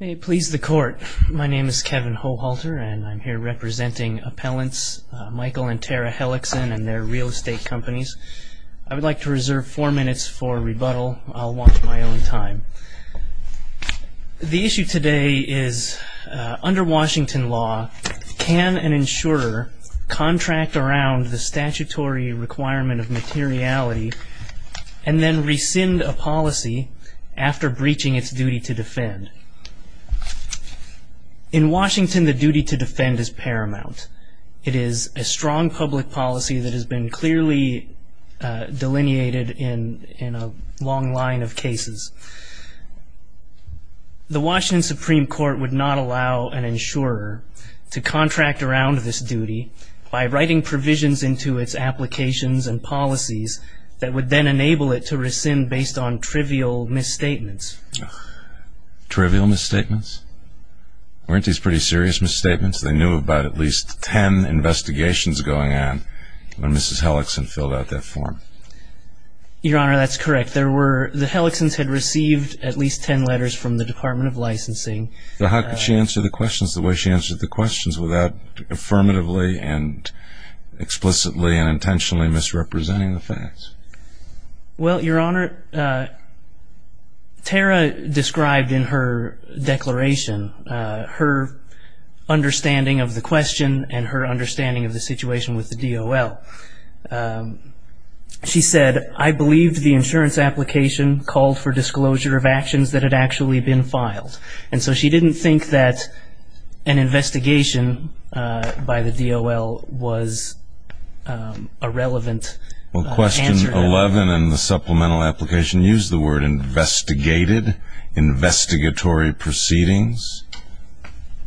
May it please the court, my name is Kevin Hohalter and I'm here representing appellants Michael and Tara Hellickson and their real estate companies. I would like to reserve four minutes for rebuttal. I'll watch my own time. The issue today is under Washington law can an insurer contract around the statutory requirement of materiality and then rescind a policy after breaching its duty to defend. In Washington the duty to defend is paramount. It is a strong public policy that has been clearly delineated in in a long line of cases. The Washington Supreme Court would not allow an insurer to contract around this duty by writing provisions into its applications and policies that would then enable it to rescind based on trivial misstatements. Trivial misstatements? Weren't these pretty serious misstatements? They knew about at least ten investigations going on when Mrs. Hellickson filled out that form. Your Honor, that's correct. There were, the Hellickson's had received at least ten letters from the Department of Licensing. So how could she answer the questions the way she answered the questions without affirmatively and explicitly and Well, Your Honor, Tara described in her declaration her understanding of the question and her understanding of the situation with the DOL. She said, I believe the insurance application called for disclosure of actions that had actually been filed. And so she didn't think that an investigation by the DOL was a relevant answer. Well, question 11 in the supplemental application used the word investigated, investigatory proceedings.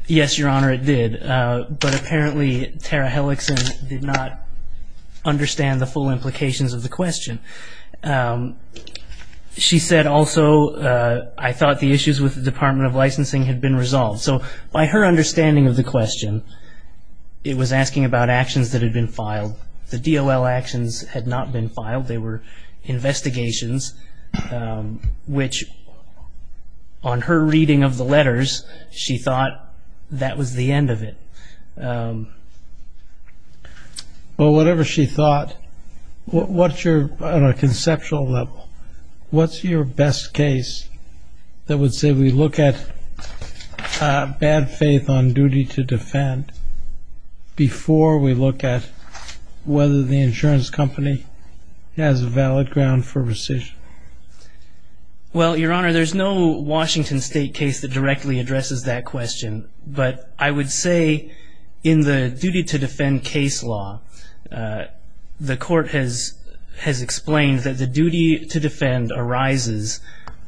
Yes, Your Honor, it did. But apparently Tara Hellickson did not understand the full implications of the question. She said also, I thought the issues with the Department of Licensing had been resolved. So by her understanding of the question, it was asking about actions that had been filed. The DOL actions had not been filed. They were investigations, which on her reading of the letters, she thought that was the end of it. Well, whatever she thought, what's your, on a conceptual level, what's your best case that would say we look at bad faith on duty to defend before we look at whether the insurance company has a valid ground for rescission? Well, Your Honor, there's no Washington State case that directly addresses that question. But I would say in the duty to defend case law, the court has, has explained that the duty to defend arises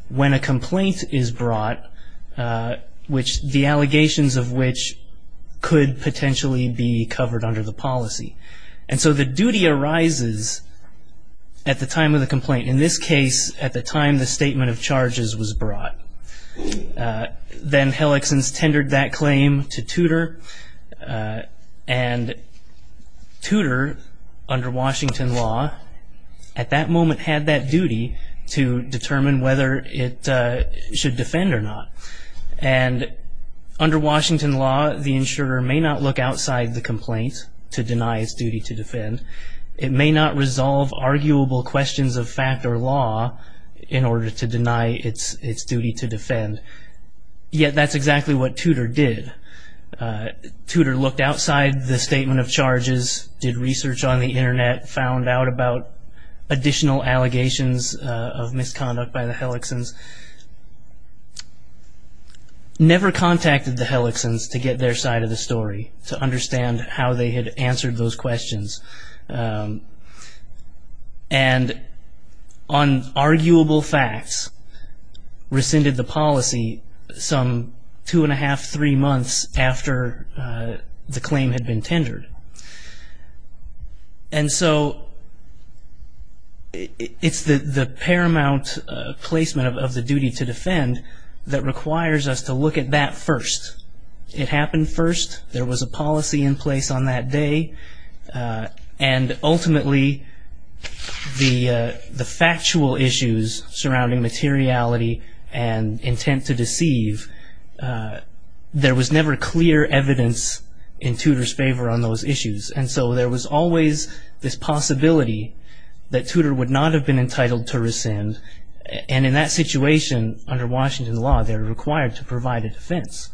when a complaint is under the policy. And so the duty arises at the time of the complaint. In this case, at the time the statement of charges was brought. Then Hellickson's tendered that claim to Tudor. And Tudor, under Washington law, at that moment had that duty to determine whether it should defend or not. And under Washington law, the insurer may not look outside the complaint to deny its duty to defend. It may not resolve arguable questions of fact or law in order to deny its, its duty to defend. Yet that's exactly what Tudor did. Tudor looked outside the statement of charges, did research on the internet, found out about additional allegations of misconduct by the Hellickson's. Never contacted the insurer side of the story to understand how they had answered those questions. And on arguable facts, rescinded the policy some two and a half, three months after the claim had been tendered. And so it's the, the paramount placement of, of the duty to defend that requires us to look at that first. It happened first. There was a policy in place on that day. And ultimately, the, the factual issues surrounding materiality and intent to deceive, there was never clear evidence in Tudor's favor on those issues. And so there was always this possibility that under Washington law, they're required to provide a defense.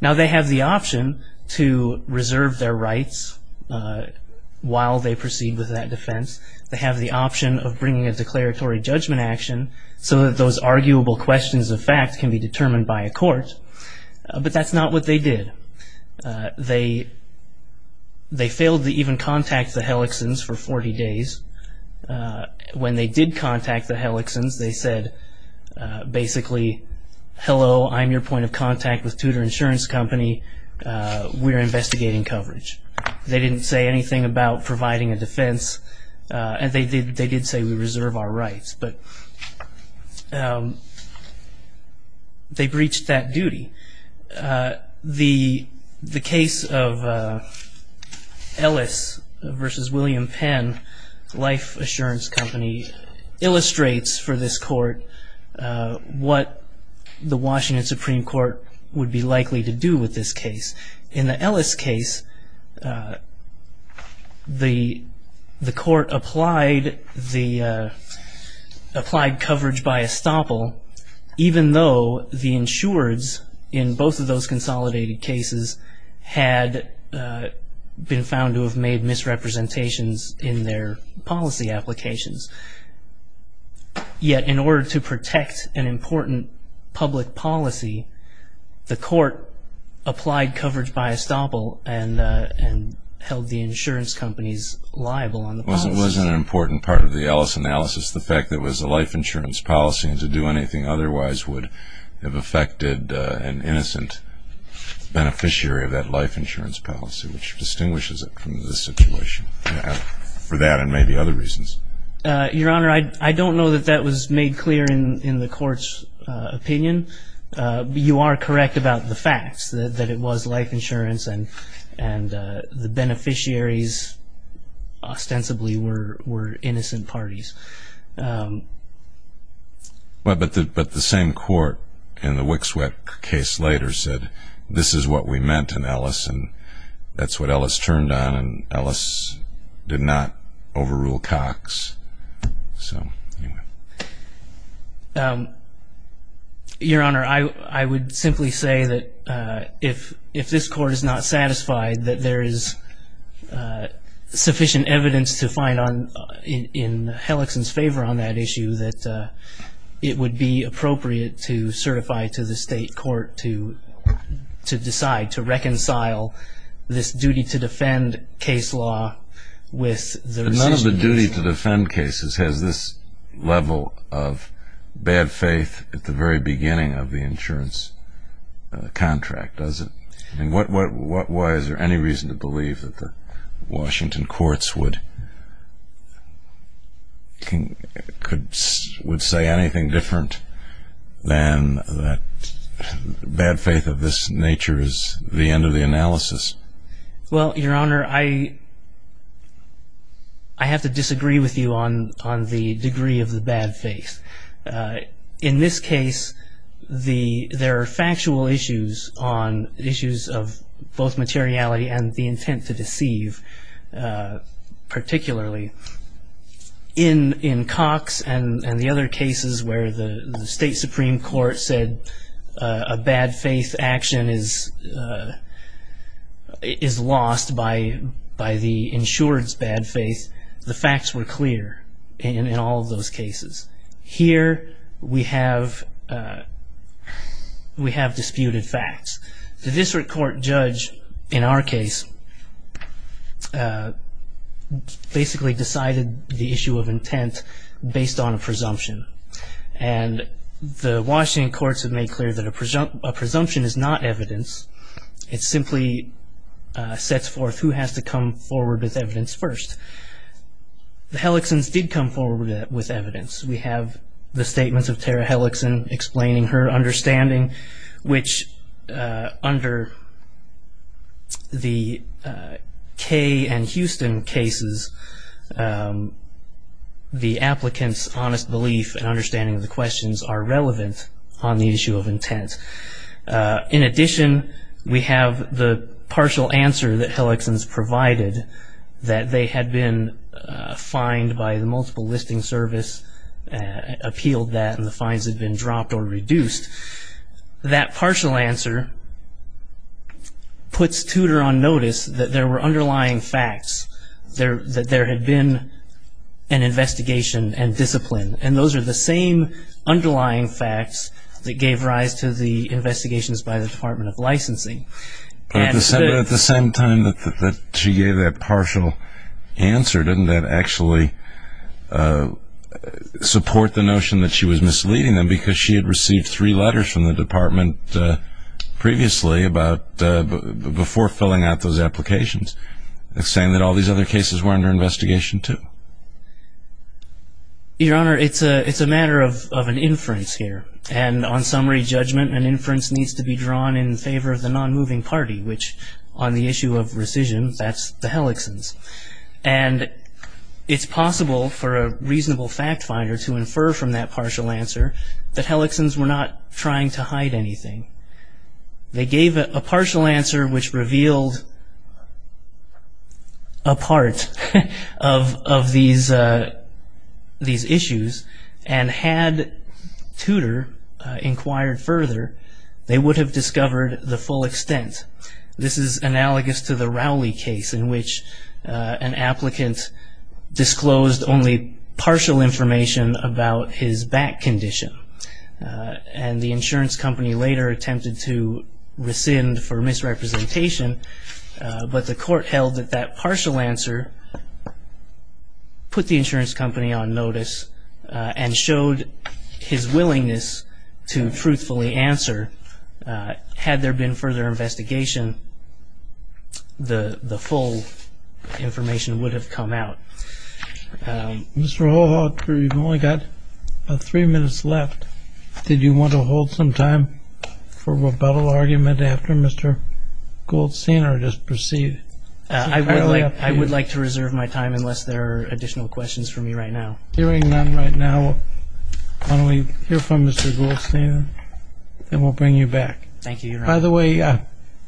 Now they have the option to reserve their rights while they proceed with that defense. They have the option of bringing a declaratory judgment action so that those arguable questions of fact can be determined by a court. But that's not what they did. They, they failed to even contact the Hellickson's for 40 days. When they did contact the Hellickson's, they said basically, hello, I'm your point of contact with Tudor Insurance Company. We're investigating coverage. They didn't say anything about providing a defense. And they did, they did say we reserve our rights. But they breached that duty. The, the case of Ellis versus William Penn, Life Assurance Company, illustrates for this court what the Washington Supreme Court would be likely to do with this case. In the Ellis case, the, the court applied the applied coverage by estoppel, even though the insureds in both of those policy applications. Yet, in order to protect an important public policy, the court applied coverage by estoppel and, and held the insurance companies liable on the policy. It wasn't an important part of the Ellis analysis, the fact that it was a life insurance policy and to do anything otherwise would have affected an innocent beneficiary of that life insurance policy, which distinguishes it from this situation, for that and maybe other reasons. Your Honor, I, I don't know that that was made clear in, in the court's opinion. You are correct about the facts, that, that it was life insurance and, and the beneficiaries ostensibly were, were innocent parties. Well, but the, but the same court in the Wickswick case later said, this is what we meant in Ellis and that's what Ellis turned on and Ellis did not overrule Cox. So, anyway. Your Honor, I, I would simply say that if, if this court is not satisfied that there is sufficient evidence to find on, in, in Hellickson's favor on that issue, that it would be appropriate to certify to the state court to, to decide, to reconcile this duty to defend case law with the... But none of the duty to defend cases has this level of bad faith at the very beginning of the insurance contract, does it? And what, what, what, why is there any reason to believe that the Washington courts would, could, would say anything different than that bad faith of this nature is the end of the analysis? Well, Your Honor, I, I have to disagree with you on, on the degree of the bad faith. In this case, the, there are factual issues on issues of both particularly in, in Cox and, and the other cases where the, the state supreme court said a bad faith action is, is lost by, by the insured's bad faith. The facts were clear in, in all of those cases. Here we have, we have disputed facts. The district court judge, in our case, basically decided the issue of intent based on a presumption. And the Washington courts have made clear that a presumption is not evidence. It simply sets forth who has to come forward with evidence first. The Helixons did come forward with evidence. We have the statements of Tara Helixon explaining her understanding, which, under the Kay and Houston cases, the applicant's honest belief and understanding of the questions are relevant on the issue of intent. In addition, we have the partial answer that Helixons provided, that they had been fined by the multiple listing service, appealed that, and the fines had been dropped or reduced. That partial answer puts Tudor on notice that there were underlying facts. There, that there had been an investigation and discipline. And those are the same underlying facts that gave rise to the investigations by the Department of Licensing. But at the same time that she gave that partial answer, didn't that actually support the notion that she was misleading them? Because she had received three letters from the department previously about, before filling out those applications, saying that all these other cases were under investigation too. Your Honor, it's a matter of an inference here. And on summary judgment, an inference needs to be drawn in favor of the non-moving party, which on the issue of rescission, that's the Helixons. And it's possible for a reasonable fact finder to infer from that partial answer that Helixons were not trying to hide anything. They gave a partial answer which revealed a part of these issues. And had Tudor inquired further, they would have discovered the full extent. This is analogous to the Rowley case in which an applicant disclosed only partial information about his back condition. And the insurance company later attempted to rescind for misrepresentation. But the court held that that partial answer put the insurance company on notice and showed his willingness to truthfully answer. Had there been further investigation, the full information would have come out. Mr. Holhofer, you've only got about three minutes left. Did you want to hold some time for rebuttal argument after Mr. Goldstein or just proceed? I would like to reserve my time unless there are additional questions for me right now. Hearing none right now, why don't we hear from Mr. Goldstein and we'll bring you back. Thank you, Your Honor. By the way,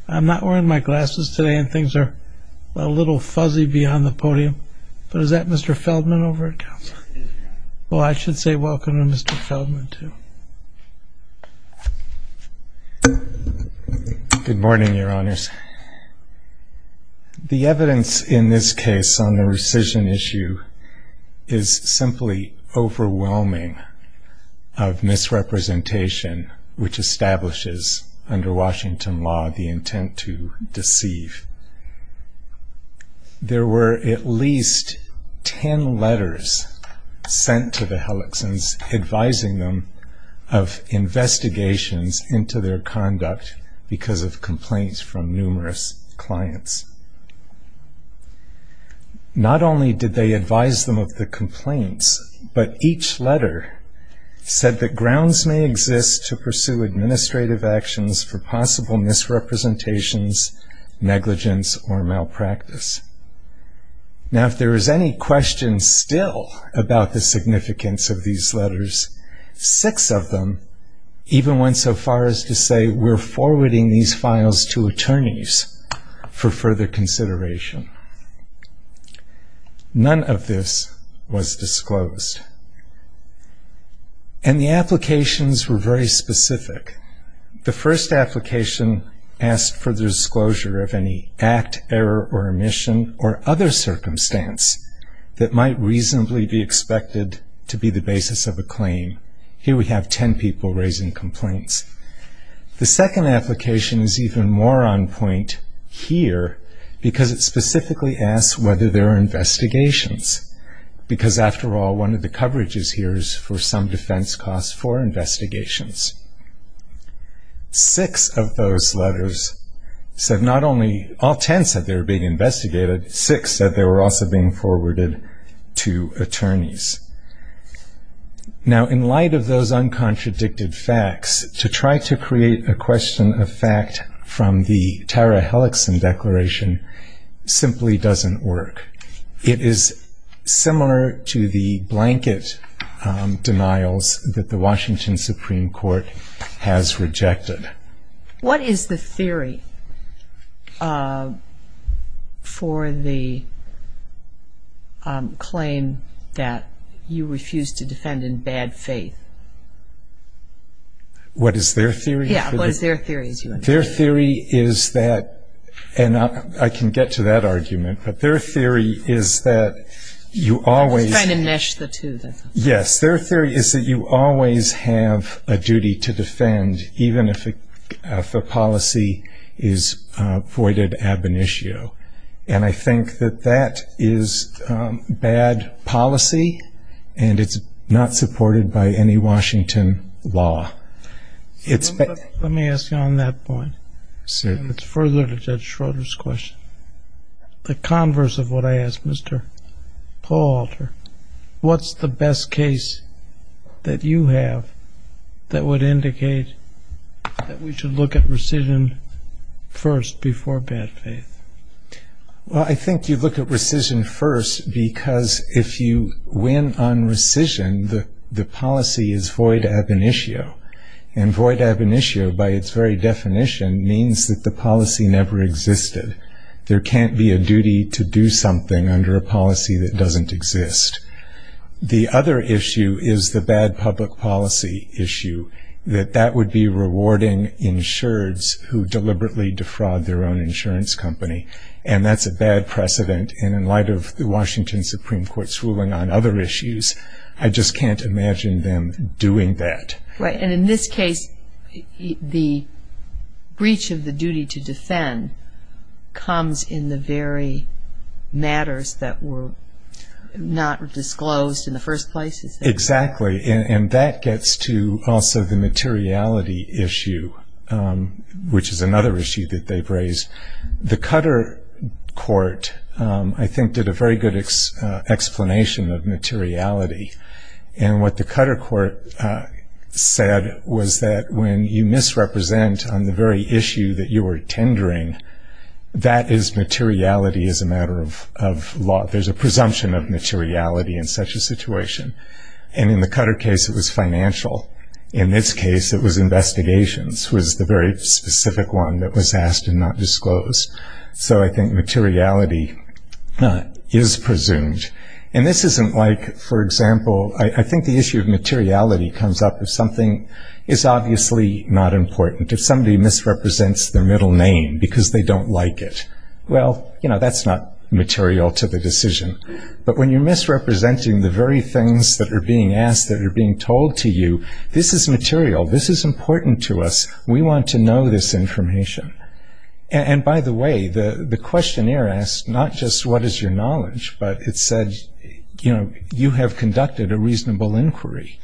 I'm not wearing my glasses today and things are a little fuzzy beyond the podium. But is that Mr. Feldman over at counsel? Well, I should say welcome to Mr. Feldman, too. Good morning, Your Honors. The evidence in this case on the rescission issue is simply overwhelming of misrepresentation, which establishes under Washington law the intent to deceive. There were at least ten letters sent to the Hellickson's advising them of investigations into their conduct because of complaints from numerous clients. Not only did they advise them of the complaints, but each letter said that grounds may exist to pursue administrative actions for possible misrepresentations, negligence, or malpractice. Now, if there is any question still about the significance of these letters, six of them even went so far as to say we're forwarding these files to attorneys for further consideration. None of this was disclosed. And the applications were very specific. The first application asked for the disclosure of any act, error, or omission, or other circumstance that might reasonably be expected to be the basis of a claim. Here we have ten people raising complaints. The second application is even more on point here because it specifically asks whether there are investigations, because after all, one of the coverages here is for some defense costs for investigations. Six of those letters said not only, all ten said they were being investigated, six said they were also being forwarded to attorneys. Now, in light of those uncontradicted facts, to try to create a question of fact from the Tara Helixson declaration simply doesn't work. It is similar to the blanket denials that the Washington Supreme Court has rejected. What is the theory for the claim that you refuse to defend in bad faith? What is their theory? Yeah, what is their theory? Their theory is that, and I can get to that argument, but their theory is that you always- I was trying to mesh the two. Even if the policy is voided ab initio. And I think that that is bad policy, and it's not supported by any Washington law. Let me ask you on that point, and it's further to Judge Schroeder's question. The converse of what I asked Mr. Pohalter, what's the best case that you have that would indicate that we should look at rescission first before bad faith? Well, I think you look at rescission first because if you win on rescission, the policy is void ab initio. And void ab initio, by its very definition, means that the policy never existed. There can't be a duty to do something under a policy that doesn't exist. The other issue is the bad public policy issue, that that would be rewarding insureds who deliberately defraud their own insurance company, and that's a bad precedent. And in light of the Washington Supreme Court's ruling on other issues, I just can't imagine them doing that. Right, and in this case, the breach of the duty to defend comes in the very matters that were not disclosed in the first place. Exactly, and that gets to also the materiality issue, which is another issue that they've raised. The Cutter Court, I think, did a very good explanation of materiality. And what the Cutter Court said was that when you misrepresent on the very matter of ordering, that is materiality as a matter of law. There's a presumption of materiality in such a situation. And in the Cutter case, it was financial. In this case, it was investigations, was the very specific one that was asked and not disclosed. So I think materiality is presumed. And this isn't like, for example, I think the issue of materiality comes up if something is obviously not important. If somebody misrepresents their middle name because they don't like it, well, that's not material to the decision. But when you're misrepresenting the very things that are being asked, that are being told to you, this is material, this is important to us. We want to know this information. And by the way, the questionnaire asked not just what is your knowledge, but it said you have conducted a reasonable inquiry.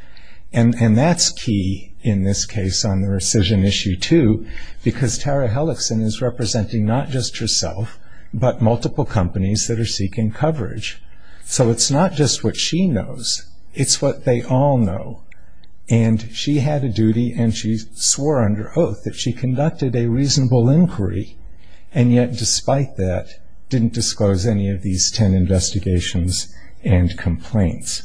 And that's key in this case on the rescission issue too, because Tara Hellickson is representing not just herself, but multiple companies that are seeking coverage. So it's not just what she knows, it's what they all know. And she had a duty and she swore under oath that she conducted a reasonable inquiry. And yet despite that, didn't disclose any of these ten investigations and complaints.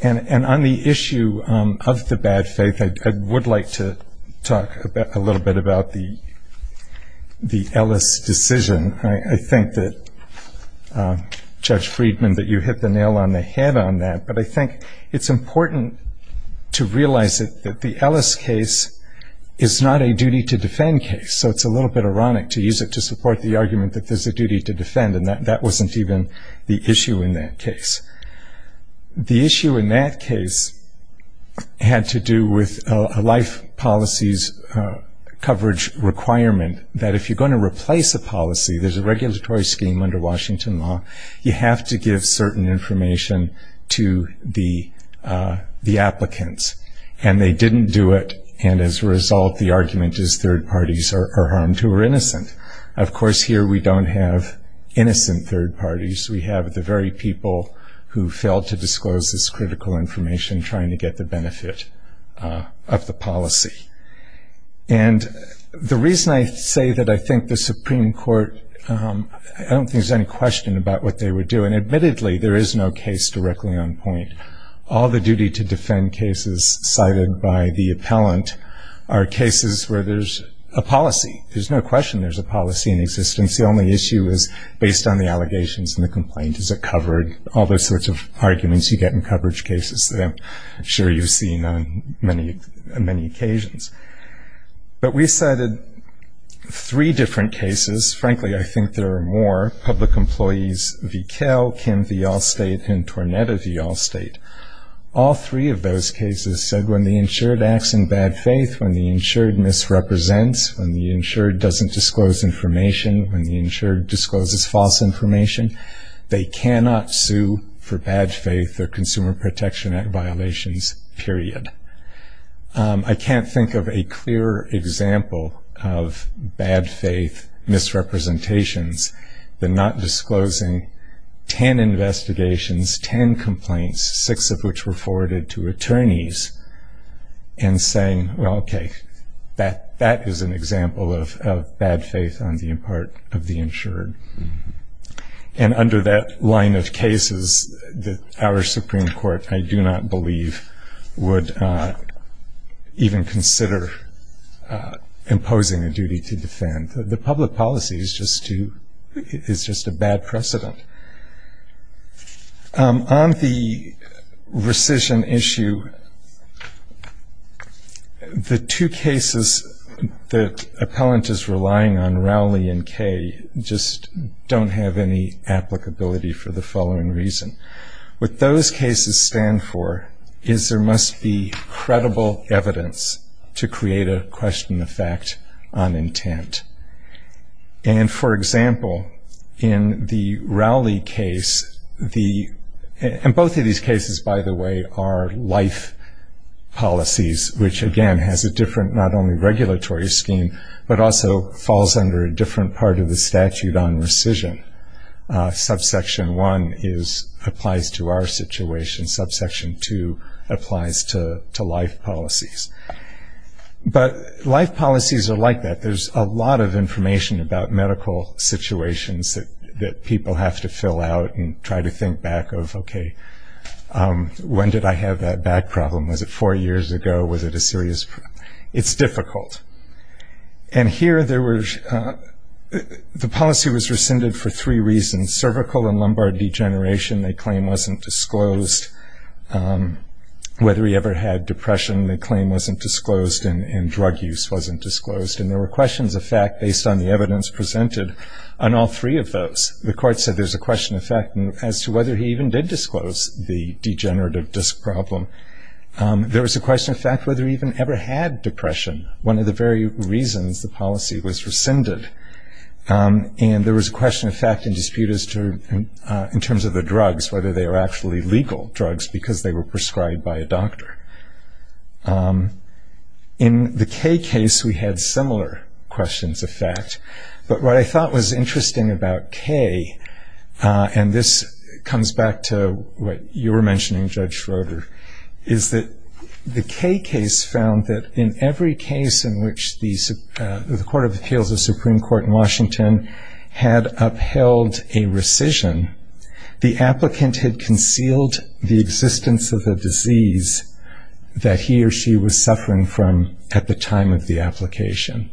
And on the issue of the bad faith, I would like to talk a little bit about the Ellis decision. I think that, Judge Friedman, that you hit the nail on the head on that. But I think it's important to realize that the Ellis case is not a duty to defend case. So it's a little bit ironic to use it to support the argument that there's a duty to defend, and that wasn't even the issue in that case. The issue in that case had to do with a life policies coverage requirement that if you're going to replace a policy, there's a regulatory scheme under Washington law. You have to give certain information to the applicants. And they didn't do it, and as a result, the argument is third parties are harmed who are innocent. Of course, here we don't have innocent third parties. We have the very people who failed to disclose this critical information, trying to get the benefit of the policy. And the reason I say that I think the Supreme Court, I don't think there's any question about what they would do. And admittedly, there is no case directly on point. All the duty to defend cases cited by the appellant are cases where there's a policy. There's no question there's a policy in existence. The only issue is based on the allegations and the complaint. Is it covered? All those sorts of arguments you get in coverage cases that I'm sure you've seen on many, many occasions. But we cited three different cases. Frankly, I think there are more. Public Employees v Kell, Kim v Allstate, and Tornetta v Allstate. All three of those cases said when the insured acts in bad faith, when the insured misrepresents, when the insured doesn't disclose information, when the insured discloses false information, they cannot sue for bad faith or Consumer Protection Act violations, period. I can't think of a clearer example of bad faith misrepresentations than not disclosing ten investigations, ten complaints, six of which were forwarded to attorneys. And saying, well, okay, that is an example of bad faith on the part of the insured. And under that line of cases, our Supreme Court, I do not believe, would even consider imposing a duty to defend. The public policy is just a bad precedent. On the rescission issue, the two cases that appellant is relying on, Rowley and Kay, just don't have any applicability for the following reason. What those cases stand for is there must be credible evidence to create a question of fact on intent. And for example, in the Rowley case, and both of these cases, by the way, are life policies, which again has a different not only regulatory scheme, but also falls under a different part of the statute on rescission. Subsection one applies to our situation, subsection two applies to life policies. But life policies are like that. There's a lot of information about medical situations that people have to fill out and try to think back of, okay, when did I have that back problem? Was it four years ago? Was it a serious? It's difficult. And here, the policy was rescinded for three reasons. Cervical and lumbar degeneration, the claim wasn't disclosed. Whether he ever had depression, the claim wasn't disclosed, and drug use wasn't disclosed. And there were questions of fact based on the evidence presented on all three of those. The court said there's a question of fact as to whether he even did disclose the degenerative disc problem. There was a question of fact whether he even ever had depression, one of the very reasons the policy was rescinded. And there was a question of fact in dispute as to, in terms of the drugs, was there a question of fact in dispute as to whether he had depression or not? In the K case, we had similar questions of fact. But what I thought was interesting about K, and this comes back to what you were mentioning, Judge Schroeder, is that the K case found that in every case in which the Court of Appeals, the Supreme Court in Washington, had upheld a rescission, the applicant had concealed the existence of the disease that he or she was suffering from at the time of the application.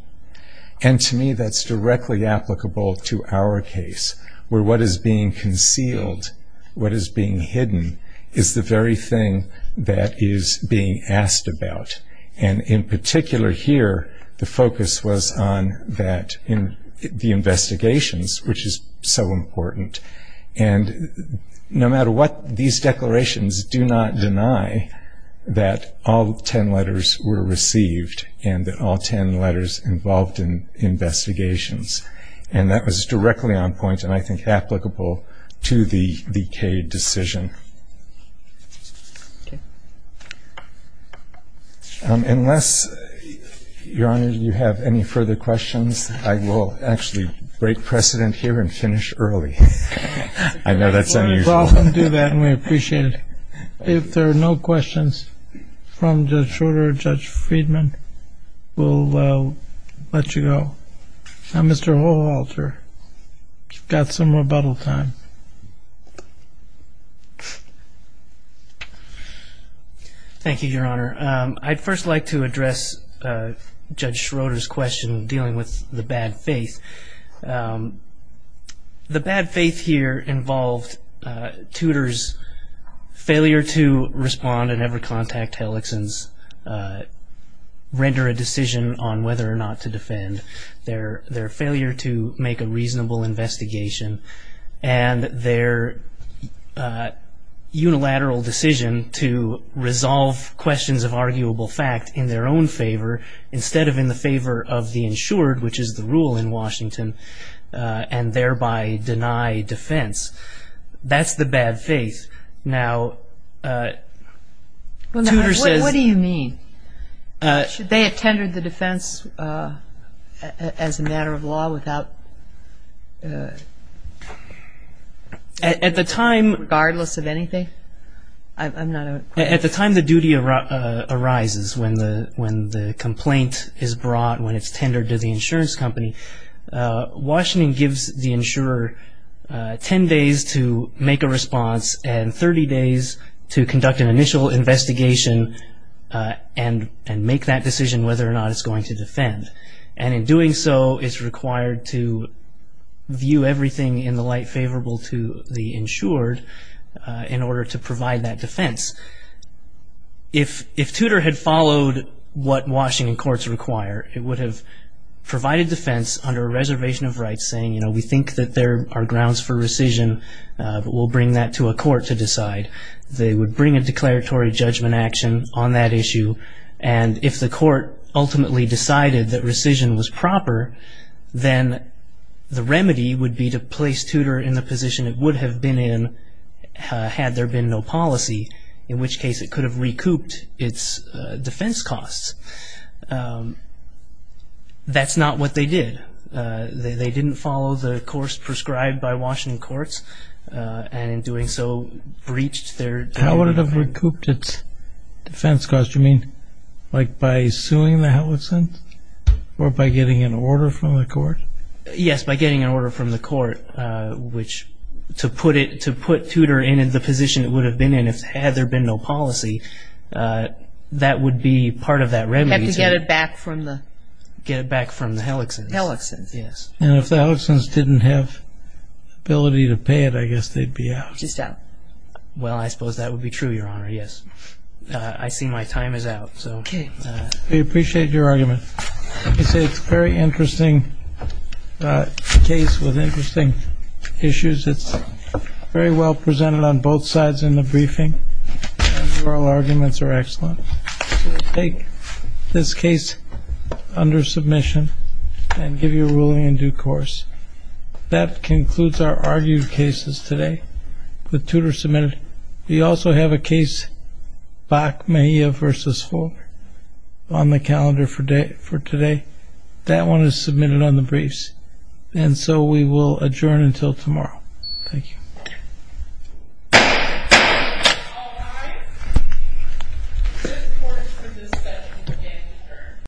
And to me, that's directly applicable to our case, where what is being concealed, what is being hidden, is the very thing that is being asked about. And in particular here, the focus was on that in the investigations, which is so important, and no matter what, these declarations do not deny that all ten letters were received, and that all ten letters involved in investigations. And that was directly on point, and I think applicable to the K decision. Unless, Your Honor, you have any further questions, I will actually break precedent here and finish early. I know that's unusual. We'll do that, and we appreciate it. If there are no questions from Judge Schroeder or Judge Friedman, we'll let you go. Now, Mr. Holwalter, you've got some rebuttal time. Thank you, Your Honor. I'd first like to address Judge Schroeder's question dealing with the bad faith. The bad faith here involved Tudor's failure to respond and ever contact Helixson's, render a decision on whether or not to defend. Their failure to make a reasonable investigation, and their unilateral decision to resolve questions of arguable fact in their own favor, instead of in the favor of the insured, which is the rule in Washington, and thereby deny defense, that's the bad faith. Now, Tudor says- What do you mean? Should they have tendered the defense as a matter of law without At the time- Regardless of anything? I'm not- At the time the duty arises, when the complaint is brought, when it's tendered to the insurance company, Washington gives the insurer ten days to make a response and 30 days to conduct an initial investigation and make that decision whether or not it's going to defend. And in doing so, it's required to view everything in the light favorable to the insured in order to provide that defense. If Tudor had followed what Washington courts require, it would have provided defense under a reservation of rights saying, we think that there are grounds for rescission, but we'll bring that to a court to decide. They would bring a declaratory judgment action on that issue, and if the court ultimately decided that rescission was proper, then the remedy would be to place Tudor in the position it would have been in had there been no policy, in which case it could have recouped its defense costs. That's not what they did. They didn't follow the course prescribed by Washington courts, and in doing so, breached their- How would it have recouped its defense costs? Do you mean like by suing the Helixsons or by getting an order from the court? Yes, by getting an order from the court, which to put Tudor in the position it would have been in had there been no policy, that would be part of that remedy. Had to get it back from the- Get it back from the Helixsons. Helixsons. Yes. And if the Helixsons didn't have ability to pay it, I guess they'd be out. Just out. Well, I suppose that would be true, Your Honor, yes. I see my time is out, so- Okay. We appreciate your argument. Let me say it's a very interesting case with interesting issues. It's very well presented on both sides in the briefing, and the oral arguments are excellent. So we take this case under submission and give you a ruling in due course. That concludes our argued cases today with Tudor submitted. We also have a case, Bach-Mahia versus Fulmer, on the calendar for today. That one is submitted on the briefs. And so we will adjourn until tomorrow. Thank you. All right, this court is for dismissal, and again, adjourned.